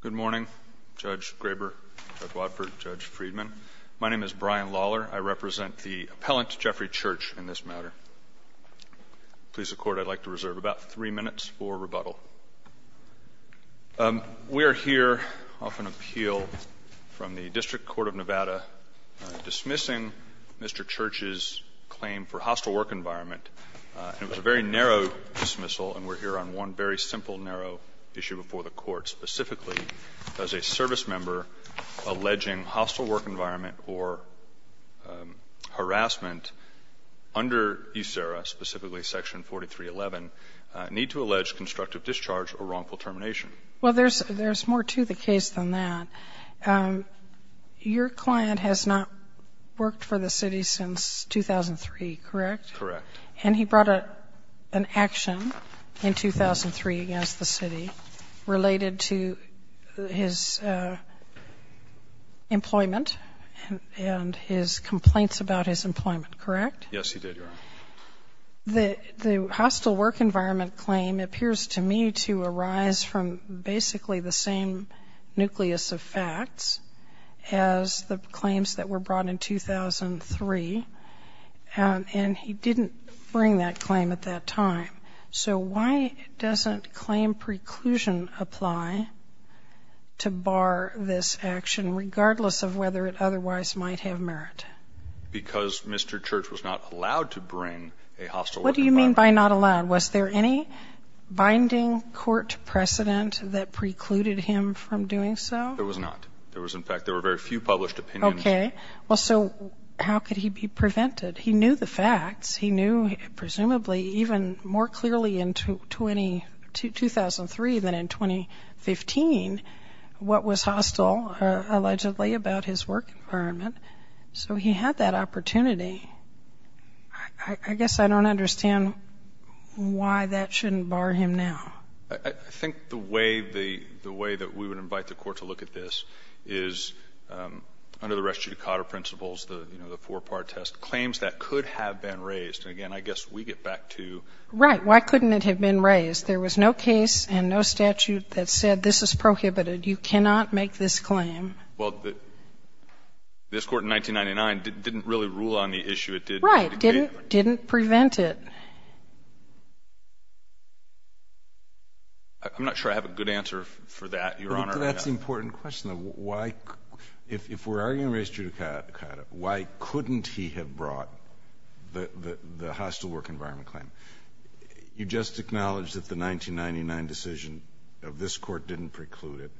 Good morning, Judge Graber, Judge Wadford, Judge Friedman. My name is Brian Lawler. I represent the appellant, Jeffrey Church, in this matter. Please, the Court, I'd like to reserve about three minutes for rebuttal. We are here off an appeal from the District Court of Nevada dismissing Mr. Church's claim for hostile work environment. It was a very narrow issue before the Court. Specifically, does a servicemember alleging hostile work environment or harassment under eSERA, specifically Section 4311, need to allege constructive discharge or wrongful termination? Well, there's more to the case than that. Your client has not worked for the city since 2003, correct? Correct. And he brought an action in 2003 against the city related to his employment and his complaints about his employment, correct? Yes, he did, Your Honor. The hostile work environment claim appears to me to arise from basically the same nucleus of facts as the claims that were brought in 2003, and he didn't bring that claim at that time. So why doesn't claim preclusion apply to bar this action, regardless of whether it otherwise might have merit? Because Mr. Church was not allowed to bring a hostile work environment. What do you mean by not allowed? Was there any binding court precedent that precluded him from doing so? There was not. There was, in fact, there were very few published opinions. Okay. Well, so how could he be prevented? He knew the facts. He knew, presumably, even more clearly in 2003 than in 2015, what was hostile allegedly about his work environment. So he had that opportunity. I guess I don't understand why that shouldn't bar him now. I think the way that we would invite the Court to look at this is, under the res judicata principles, you know, the four-part test, claims that could have been raised. And, again, I guess we get back to — Right. Why couldn't it have been raised? There was no case and no statute that said, this is prohibited. You cannot make this claim. Well, this Court in 1999 didn't really rule on the issue. It did — Right. Didn't prevent it. I'm not sure I have a good answer for that, Your Honor. That's the important question, though. Why — if we're arguing the res judicata, why couldn't he have brought the hostile work environment claim? You just acknowledged that the 1999 decision of this Court didn't preclude it.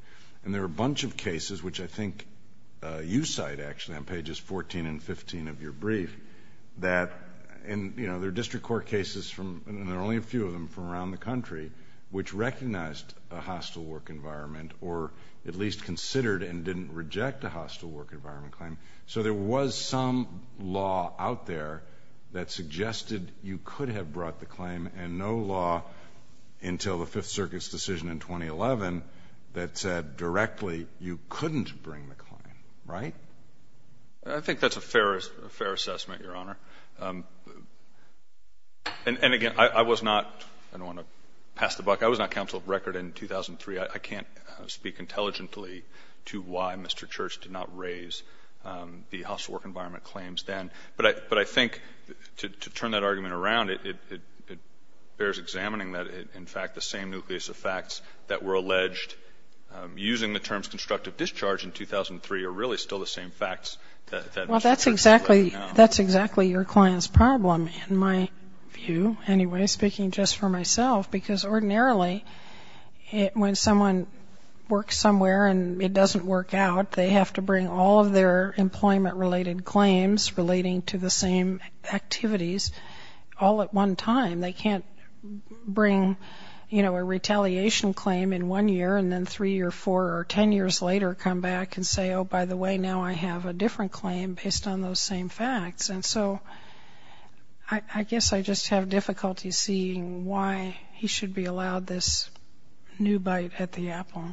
And there were a bunch of cases, which I think you cite, actually, on pages 14 and 15 of your brief, that — and, you know, there are district court cases from — and there are only a few of them from around the country which recognized a hostile work environment or at least considered and didn't reject a hostile work environment claim. So there was some law out there that suggested you could have brought the claim and no law until the Fifth Circuit's decision in 2011 that said directly you couldn't bring the claim, right? I think that's a fair assessment, Your Honor. And, again, I was not — I don't want to pass the buck. I was not counsel of record in 2003. I can't speak intelligently to why Mr. Church did not raise the hostile work environment claims then. But I think to turn that argument around, it bears examining that, in fact, the same nucleus of facts that were alleged using the terms constructive discharge in 2003 are really Well, that's exactly — that's exactly your client's problem, in my view. Anyway, speaking just for myself, because ordinarily, when someone works somewhere and it doesn't work out, they have to bring all of their employment-related claims relating to the same activities all at one time. They can't bring, you know, a retaliation claim in one year and then three or four or ten years later come back and say, oh, by the way, now I have a different claim based on those same facts. And so I guess I just have difficulty seeing why he should be allowed this new bite at the apple.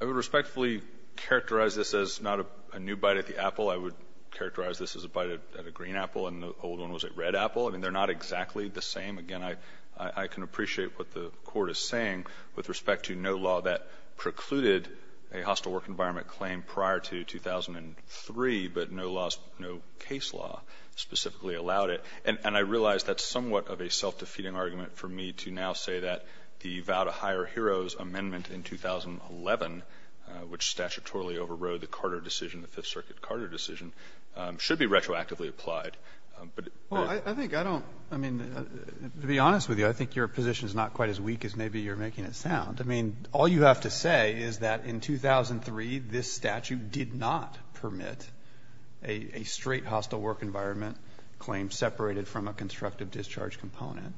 I would respectfully characterize this as not a new bite at the apple. I would characterize this as a bite at a green apple and the old one was a red apple. I mean, they're not exactly the same. Again, I can appreciate what the Court is saying with respect to no law that precluded a hostile work environment claim prior to 2003, but no laws, no case law specifically allowed it. And I realize that's somewhat of a self-defeating argument for me to now say that the vow to hire heroes amendment in 2011, which statutorily overrode the Carter decision, the Fifth Circuit Carter decision, should be retroactively applied. Well, I think I don't — I mean, to be honest with you, I think your position is not quite as weak as maybe you're making it sound. I mean, all you have to say is that in 2003, this statute did not permit a straight hostile work environment claim separated from a constructive discharge component.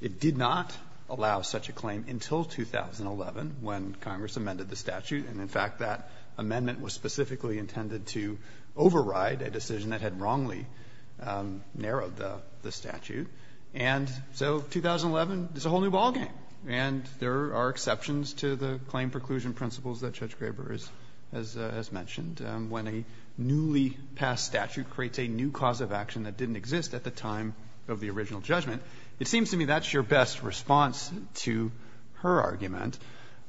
It did not allow such a claim until 2011 when Congress amended the statute. And in fact, that amendment was specifically intended to override a decision that had wrongly narrowed the statute. And so 2011 is a whole new ballgame. And there are exceptions to the claim preclusion principles that Judge Graber has mentioned. When a newly passed statute creates a new cause of action that didn't exist at the time of the original judgment, it seems to me that's your best response to her argument.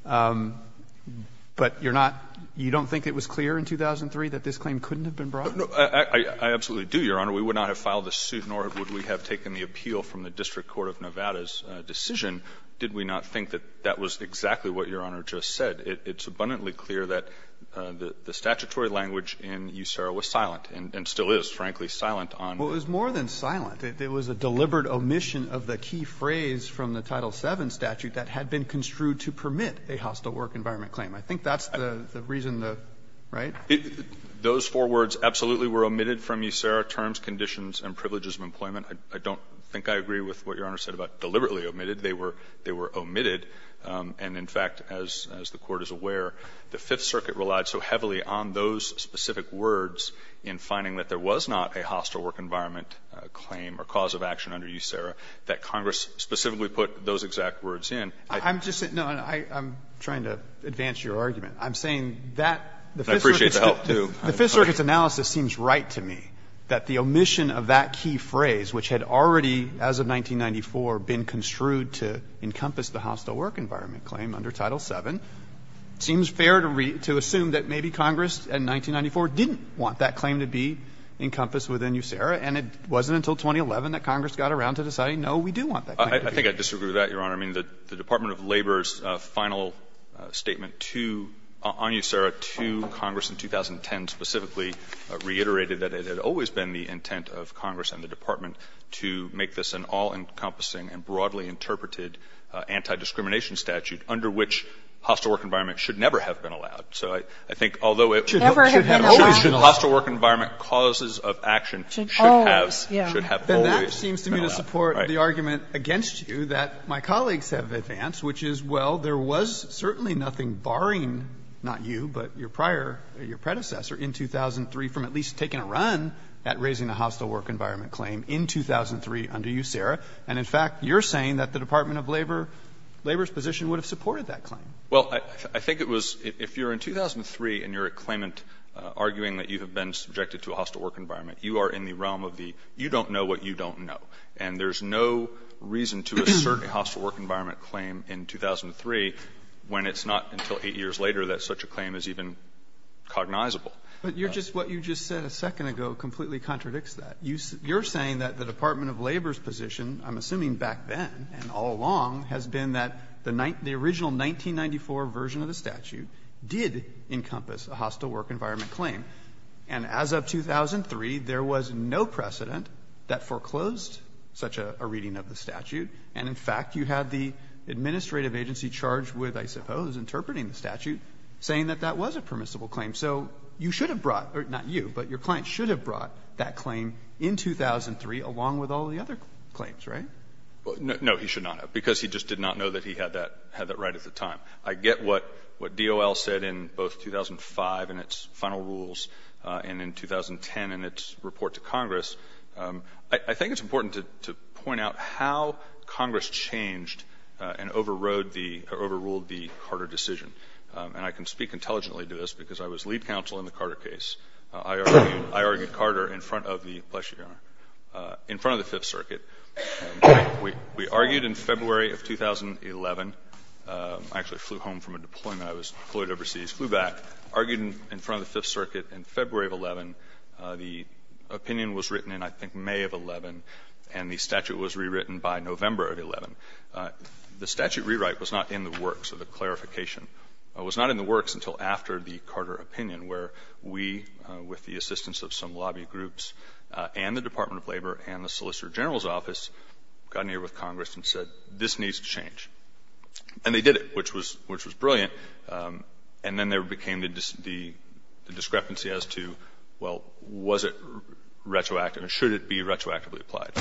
But you're not — you don't think it was clear in 2003 that this claim couldn't have been brought? No, I absolutely do, Your Honor. We would not have filed this suit, nor would we have taken the appeal from the District Court of Nevada's decision, did we not think that that was exactly what Your Honor just said. It's abundantly clear that the statutory language in USERRA was silent, and still is, frankly, silent on the — Well, it was more than silent. It was a deliberate omission of the key phrase from the Title VII statute that had been construed to permit a hostile work environment claim. I think that's the reason the — right? Those four words absolutely were omitted from USERRA, terms, conditions, and privileges of employment. I don't think I agree with what Your Honor said about deliberately omitted. They were — they were omitted. And in fact, as the Court is aware, the Fifth Circuit relied so heavily on those specific words in finding that there was not a hostile work environment claim or cause of action under USERRA that Congress specifically put those exact words in. I'm just — no, I'm trying to advance your argument. I'm saying that the Fifth Circuit's analysis seems right to me, that the omission of that key phrase, which had already, as of 1994, been construed to encompass the hostile work environment claim under Title VII, seems fair to assume that maybe Congress, in 1994, didn't want that claim to be encompassed within USERRA, and it wasn't until 2011 that Congress got around to deciding, no, we do want that claim to be. I think I disagree with that, Your Honor. I mean, the Department of Labor's final statement to — on USERRA to Congress in 2010 specifically reiterated that it had always been the intent of Congress and the Department to make this an all-encompassing and broadly interpreted anti-discrimination statute under which hostile work environment should never have been allowed. So I think although it should have always been hostile work environment causes of action should have always been allowed. And that seems to me to support the argument against you that my colleagues have advanced, which is, well, there was certainly nothing barring not you, but your prior — your predecessor in 2003 from at least taking a run at raising the hostile work environment claim in 2003 under USERRA. And in fact, you're saying that the Department of Labor's position would have supported that claim. Well, I think it was — if you're in 2003 and you're at claimant arguing that you have been subjected to a hostile work environment, you are in the realm of the you don't know what you don't know. And there's no reason to assert a hostile work environment claim in 2003 when it's not until 8 years later that such a claim is even cognizable. But you're just — what you just said a second ago completely contradicts that. You're saying that the Department of Labor's position, I'm assuming back then and all along, has been that the original 1994 version of the statute did encompass a hostile work environment claim. And as of 2003, there was no precedent that foreclosed such a reading of the statute. And in fact, you had the administrative agency charged with, I suppose, interpreting the statute, saying that that was a permissible claim. So you should have brought — not you, but your client should have brought that claim in 2003 along with all the other claims, right? No. He should not have, because he just did not know that he had that right at the time. I get what DOL said in both 2005 in its final rules and in 2010 in its report to Congress. I think it's important to point out how Congress changed and overrode the — overruled the Carter decision. And I can speak intelligently to this, because I was lead counsel in the Carter case. I argued Carter in front of the — bless your honor — in front of the Fifth Circuit. We argued in February of 2011 — I actually flew home from a deployment. I was deployed overseas, flew back, argued in front of the Fifth Circuit in February of 2011. The opinion was written in, I think, May of 2011, and the statute was rewritten by November of 2011. The statute rewrite was not in the works of the clarification. It was not in the works until after the Carter opinion, where we, with the assistance of some lobby groups and the Department of Labor and the Solicitor General's office, got near with Congress and said, this needs to change. And they did it, which was — which was brilliant. And then there became the — the discrepancy as to, well, was it retroactive or should it be retroactively applied?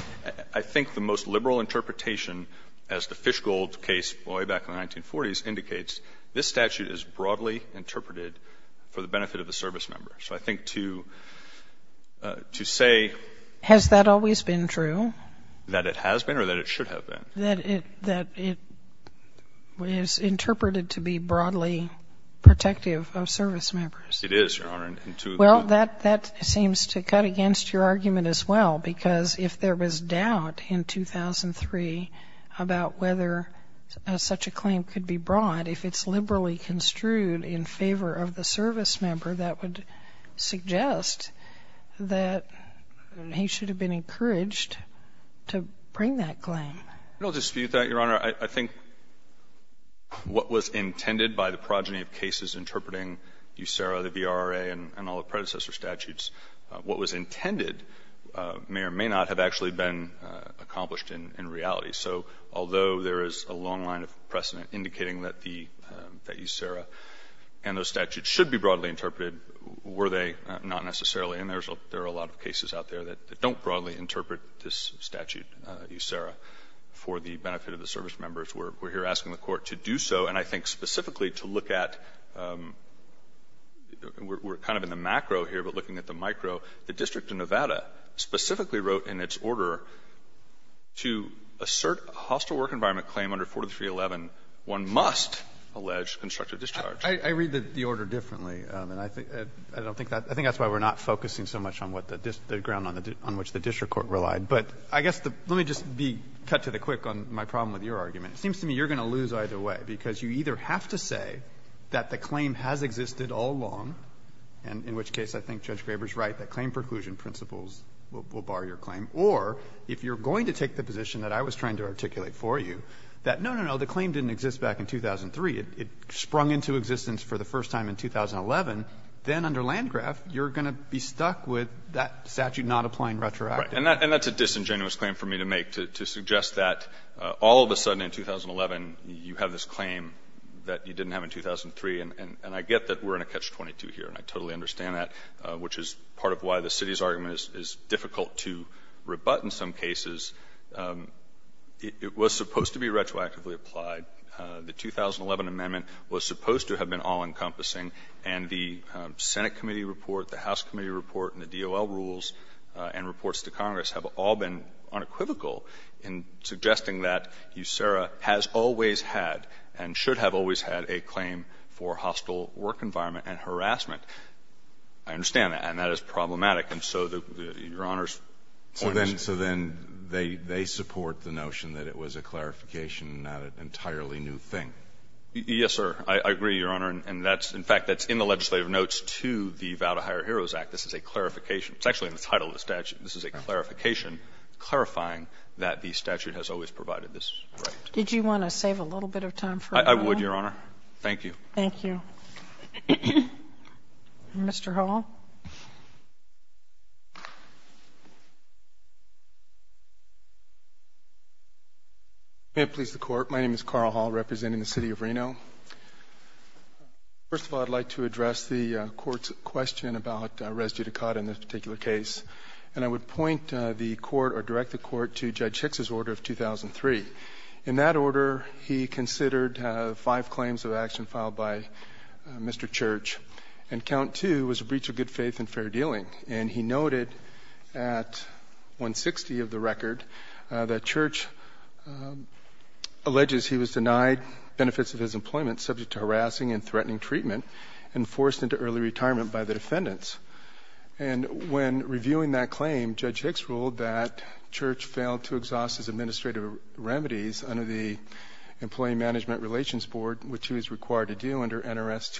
I think the most liberal interpretation, as the Fishgold case, way back in the 1940s, indicates, this statute is broadly interpreted for the benefit of the servicemember. So I think to — to say — Sotomayor, has that always been true? That it has been or that it should have been? That it — that it is interpreted to be broadly protective of servicemembers. It is, Your Honor. Well, that — that seems to cut against your argument as well, because if there was doubt in 2003 about whether such a claim could be brought, if it's liberally construed in favor of the servicemember, that would suggest that he should have been encouraged to bring that claim. I don't dispute that, Your Honor. I think what was intended by the progeny of cases interpreting USERRA, the VRRA, and all the predecessor statutes, what was intended may or may not have actually been accomplished in reality. So although there is a long line of precedent indicating that the — that USERRA and those statutes should be broadly interpreted, were they not necessarily. And there's a — there are a lot of cases out there that don't broadly interpret this statute, USERRA, for the benefit of the servicemembers. We're here asking the Court to do so. And I think specifically to look at — we're kind of in the macro here, but looking at the micro — the District of Nevada specifically wrote in its order to assert a hostile work environment claim under 4311, one must allege constructive discharge. I read the order differently, and I don't think that — I think that's why we're not focusing so much on what the — the ground on which the district court relied. But I guess the — let me just be cut to the quick on my problem with your argument. It seems to me you're going to lose either way, because you either have to say that the claim has existed all along, and in which case I think Judge Graber's right, that claim preclusion principles will bar your claim, or if you're going to take the position that I was trying to articulate for you, that no, no, no, the claim didn't exist back in 2003. It sprung into existence for the first time in 2011. Then under Landgraf, you're going to be stuck with that statute not applying retroactively. And that's a disingenuous claim for me to make, to suggest that all of a sudden in 2011, you have this claim that you didn't have in 2003, and I get that we're in a catch-22 here, and I totally understand that, which is part of why the city's argument is difficult to rebut in some cases. It was supposed to be retroactively applied. The 2011 amendment was supposed to have been all-encompassing, and the Senate committee report, the House committee report, and the DOL rules and reports to Congress have all been unequivocal in suggesting that USERRA has always had and should have always had a claim for hostile work environment and harassment. I understand that, and that is problematic, and so the Your Honor's point is. So then they support the notion that it was a clarification, not an entirely new thing. Yes, sir. I agree, Your Honor, and that's – in fact, that's in the legislative notes to the Vow to Hire Heroes Act. This is a clarification. It's actually in the title of the statute. This is a clarification, clarifying that the statute has always provided this right. Did you want to save a little bit of time for a moment? I would, Your Honor. Thank you. Thank you. Mr. Hall. May it please the Court, my name is Carl Hall, representing the City of Reno. First of all, I'd like to address the Court's question about res judicata in this particular case, and I would point the Court or direct the Court to Judge Hicks' order of 2003. In that order, he considered five claims of action filed by Mr. Church, and count two was a breach of good faith and fair dealing, and he noted at 160 of the record that Church alleges he was denied benefits of his employment subject to harassing and threatening treatment and forced into early retirement by the defendants. And when reviewing that claim, Judge Hicks ruled that Church failed to exhaust his administrative remedies under the Employee Management Relations Board, which he was required to do under NRS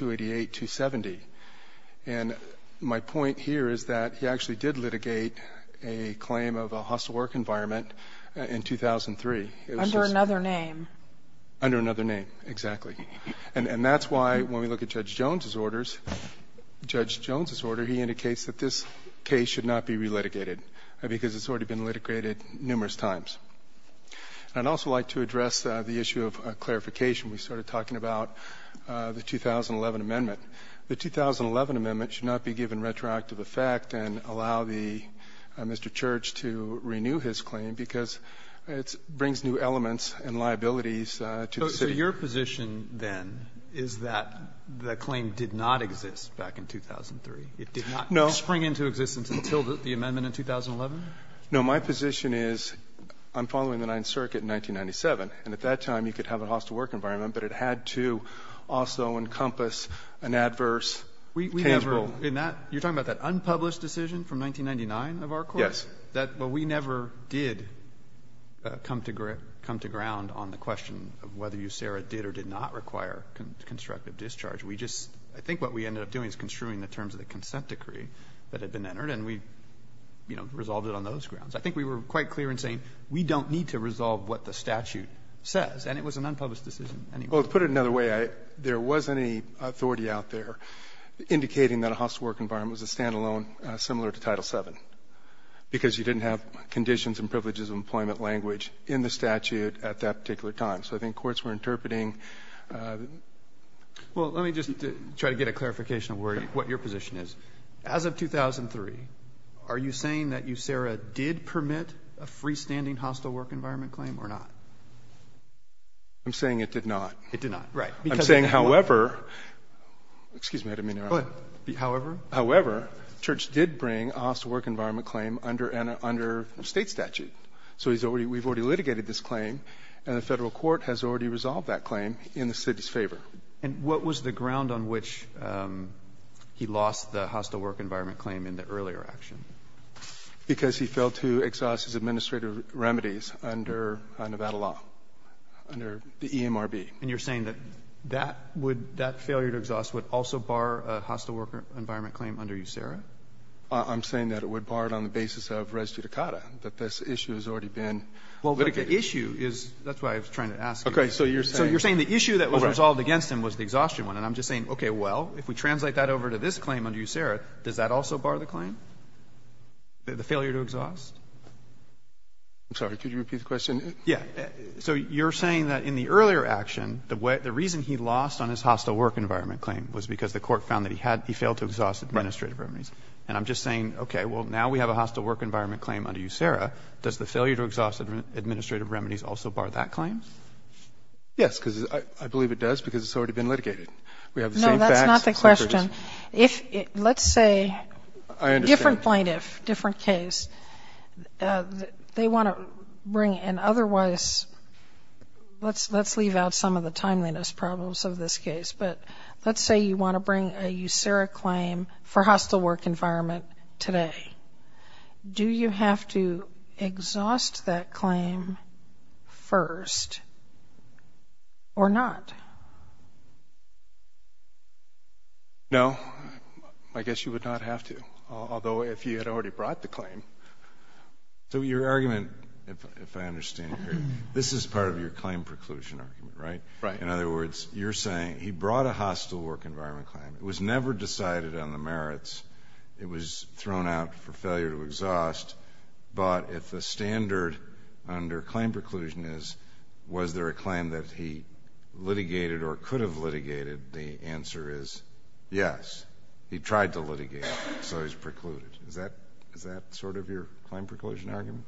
288-270. And my point here is that he actually did litigate a claim of a hostile work environment in 2003. Under another name. Under another name, exactly. And that's why, when we look at Judge Jones' orders, Judge Jones' order, he indicates that this case should not be relitigated, because it's already been litigated numerous times. I'd also like to address the issue of clarification. We started talking about the 2011 amendment. The 2011 amendment should not be given retroactive effect and allow the Mr. Church to renew his claim, because it brings new elements and liabilities to the city. Your position, then, is that the claim did not exist back in 2003? It did not spring into existence until the amendment in 2011? No. My position is I'm following the Ninth Circuit in 1997, and at that time you could have a hostile work environment, but it had to also encompass an adverse case rule. You're talking about that unpublished decision from 1999 of our court? Yes. Well, we never did come to ground on the question of whether USERRA did or did not require constructive discharge. We just – I think what we ended up doing is construing the terms of the consent decree that had been entered, and we, you know, resolved it on those grounds. I think we were quite clear in saying we don't need to resolve what the statute says, and it was an unpublished decision anyway. Well, to put it another way, there wasn't any authority out there indicating that a hostile work environment was a standalone, similar to Title VII. Because you didn't have conditions and privileges of employment language in the statute at that particular time. So I think courts were interpreting the – Well, let me just try to get a clarification of where – what your position is. As of 2003, are you saying that USERRA did permit a freestanding hostile work environment claim or not? I'm saying it did not. It did not. Right. I'm saying, however – excuse me, I didn't mean to interrupt. Go ahead. However? However, Church did bring a hostile work environment claim under a State statute. So he's already – we've already litigated this claim, and the Federal court has already resolved that claim in the city's favor. And what was the ground on which he lost the hostile work environment claim in the earlier action? Because he failed to exhaust his administrative remedies under Nevada law, under the EMRB. And you're saying that that would – that failure to exhaust would also bar a hostile work environment claim under USERRA? I'm saying that it would bar it on the basis of res judicata, that this issue has already been litigated. Well, but the issue is – that's why I was trying to ask you. Okay. So you're saying – So you're saying the issue that was resolved against him was the exhaustion one. And I'm just saying, okay, well, if we translate that over to this claim under USERRA, does that also bar the claim, the failure to exhaust? I'm sorry. Could you repeat the question? Yeah. So you're saying that in the earlier action, the reason he lost on his hostile work environment claim was because the court found that he had – he failed to exhaust administrative remedies. Right. And I'm just saying, okay, well, now we have a hostile work environment claim under USERRA. Does the failure to exhaust administrative remedies also bar that claim? Yes, because I believe it does, because it's already been litigated. We have the same facts. No, that's not the question. If – let's say different plaintiff, different case. They want to bring an otherwise – let's leave out some of the timeliness problems of this case. But let's say you want to bring a USERRA claim for hostile work environment today. Do you have to exhaust that claim first or not? No. I guess you would not have to, although if he had already brought the claim. So your argument, if I understand it, this is part of your claim preclusion argument, right? Right. In other words, you're saying he brought a hostile work environment claim. It was never decided on the merits. It was thrown out for failure to exhaust. But if the standard under claim preclusion is, was there a claim that he litigated or could have litigated, the answer is yes. He tried to litigate it, so he's precluded. Is that sort of your claim preclusion argument?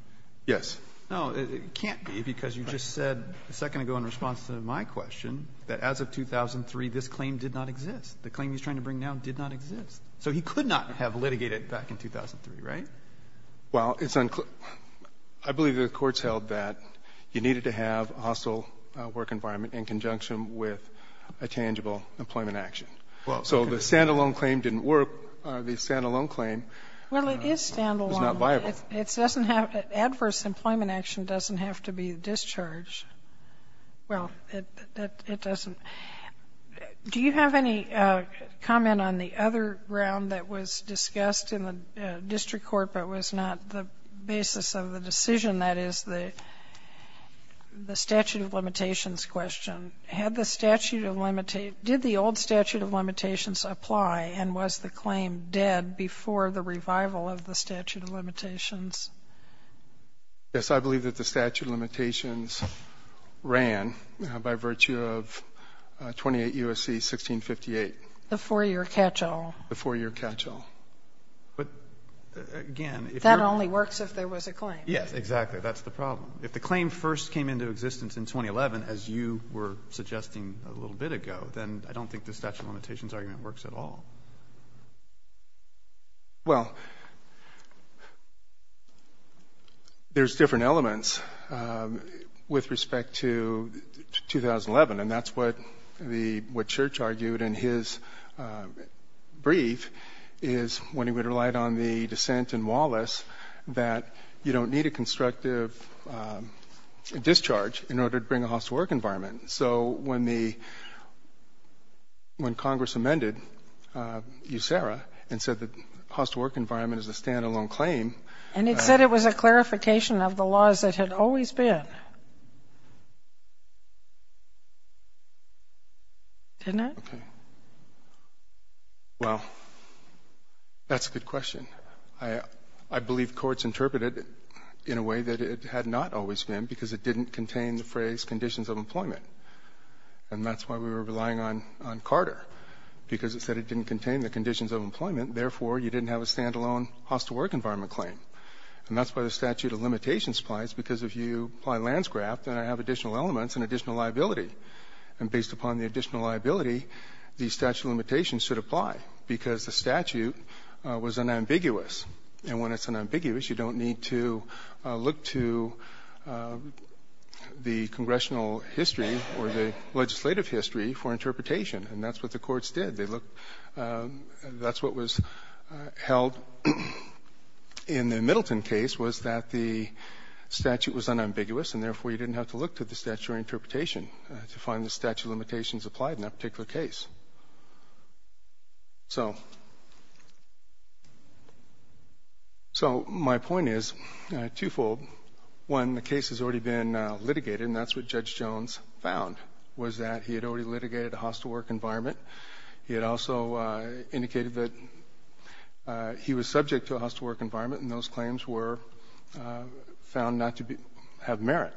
Yes. No, it can't be, because you just said a second ago in response to my question that as of 2003, this claim did not exist. The claim he's trying to bring down did not exist. So he could not have litigated it back in 2003, right? Well, it's unclear. I believe the Court's held that you needed to have a hostile work environment in conjunction with a tangible employment action. So the stand-alone claim didn't work. The stand-alone claim is not viable. It doesn't have, adverse employment action doesn't have to be discharged. Well, it doesn't. Do you have any comment on the other ground that was discussed in the district court but was not the basis of the decision, that is the statute of limitations question? Had the statute of limitations, did the old statute of limitations apply and was the statute of limitations? Yes, I believe that the statute of limitations ran by virtue of 28 U.S.C. 1658. The four-year catch-all. The four-year catch-all. But, again, if you're That only works if there was a claim. Yes, exactly. That's the problem. If the claim first came into existence in 2011, as you were suggesting a little bit ago, then I don't think the statute of limitations argument works at all. Well, there's different elements with respect to 2011, and that's what the, what Church argued in his brief is when he relied on the dissent in Wallace that you don't need a constructive discharge in order to bring a house to work environment. So when the, when Congress amended USERRA and said the house to work environment is a stand-alone claim. And it said it was a clarification of the laws that had always been, didn't it? Okay. Well, that's a good question. I believe courts interpreted it in a way that it had not always been because it And that's why we were relying on Carter. Because it said it didn't contain the conditions of employment. Therefore, you didn't have a stand-alone house to work environment claim. And that's why the statute of limitations applies. Because if you apply landscraft, then I have additional elements and additional liability. And based upon the additional liability, the statute of limitations should apply. Because the statute was unambiguous. And when it's unambiguous, you don't need to look to the congressional history or the legislative history for interpretation. And that's what the courts did. They looked, that's what was held in the Middleton case was that the statute was unambiguous. And therefore, you didn't have to look to the statutory interpretation to find the statute of limitations applied in that particular case. So my point is, twofold, one, the case has already been litigated and that's what Judge Jones found was that he had already litigated a house to work environment. He had also indicated that he was subject to a house to work environment. And those claims were found not to have merit.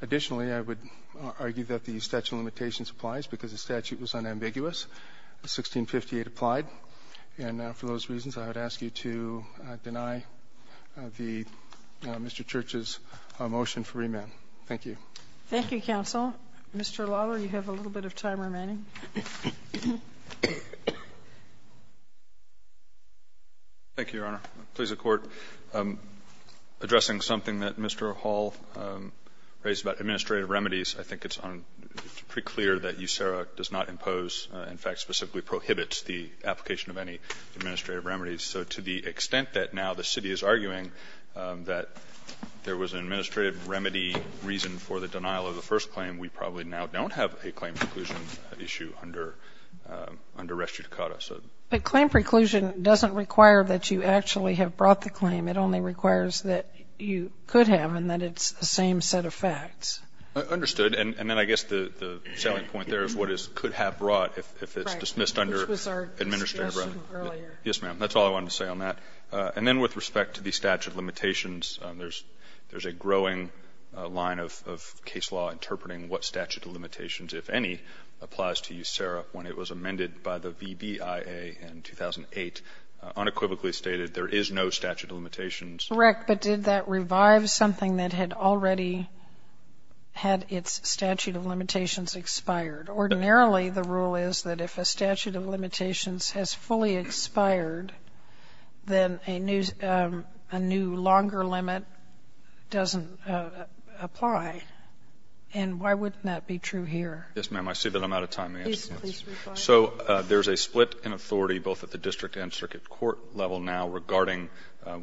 Additionally, I would argue that the statute of limitations applies. Because the statute was unambiguous, 1658 applied. And for those reasons, I would ask you to deny the Mr. Church's motion for remand. Thank you. Thank you, counsel. Mr. Lawler, you have a little bit of time remaining. Thank you, Your Honor. Please, the Court. Addressing something that Mr. Hall raised about administrative remedies, I think it's pretty clear that USERRA does not impose, in fact, specifically prohibits the application of any administrative remedies. So to the extent that now the city is arguing that there was an administrative remedy reason for the denial of the first claim, we probably now don't have a claim preclusion issue under Res Chutecada. But claim preclusion doesn't require that you actually have brought the claim. It only requires that you could have and that it's the same set of facts. Understood. And then I guess the salient point there is what is could have brought if it's dismissed under administrative remedy. Right. Which was our discussion earlier. Yes, ma'am. That's all I wanted to say on that. And then with respect to the statute of limitations, there's a growing line of case law interpreting what statute of limitations, if any, applies to USERRA when it was amended by the VBIA in 2008, unequivocally stated there is no statute of limitations. Correct. But did that revive something that had already had its statute of limitations expired? Ordinarily, the rule is that if a statute of limitations has fully expired, then a new longer limit doesn't apply. And why wouldn't that be true here? Yes, ma'am. I see that I'm out of time. So there's a split in authority both at the district and circuit court level now regarding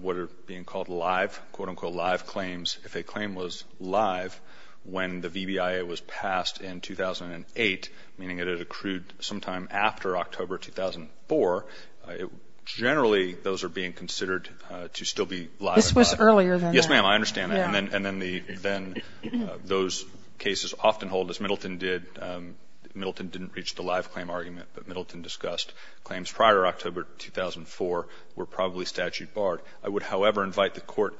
what are being called live, quote, unquote, live claims. If a claim was live when the VBIA was passed in 2008, meaning it had accrued sometime after October 2004, generally those are being considered to still be live. This was earlier than that. Yes, ma'am. I understand that. And then those cases often hold, as Middleton did. Middleton didn't reach the live claim argument. But Middleton discussed claims prior to October 2004 were probably statute barred. I would, however, invite the Court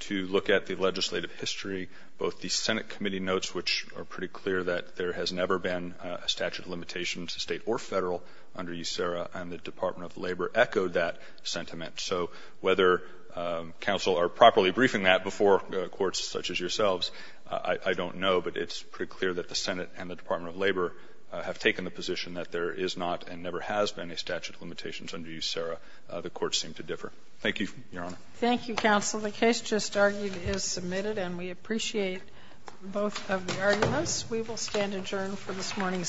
to look at the legislative history. Both the Senate committee notes, which are pretty clear that there has never been a statute of limitation to State or Federal under USERRA, and the Department of Labor echoed that sentiment. So whether counsel are properly briefing that before courts such as yourselves, I don't know. But it's pretty clear that the Senate and the Department of Labor have taken the position that there is not and never has been a statute of limitations under USERRA. The courts seem to differ. Thank you, Your Honor. Thank you, counsel. The case just argued is submitted, and we appreciate both of the arguments. We will stand adjourned for this morning's session.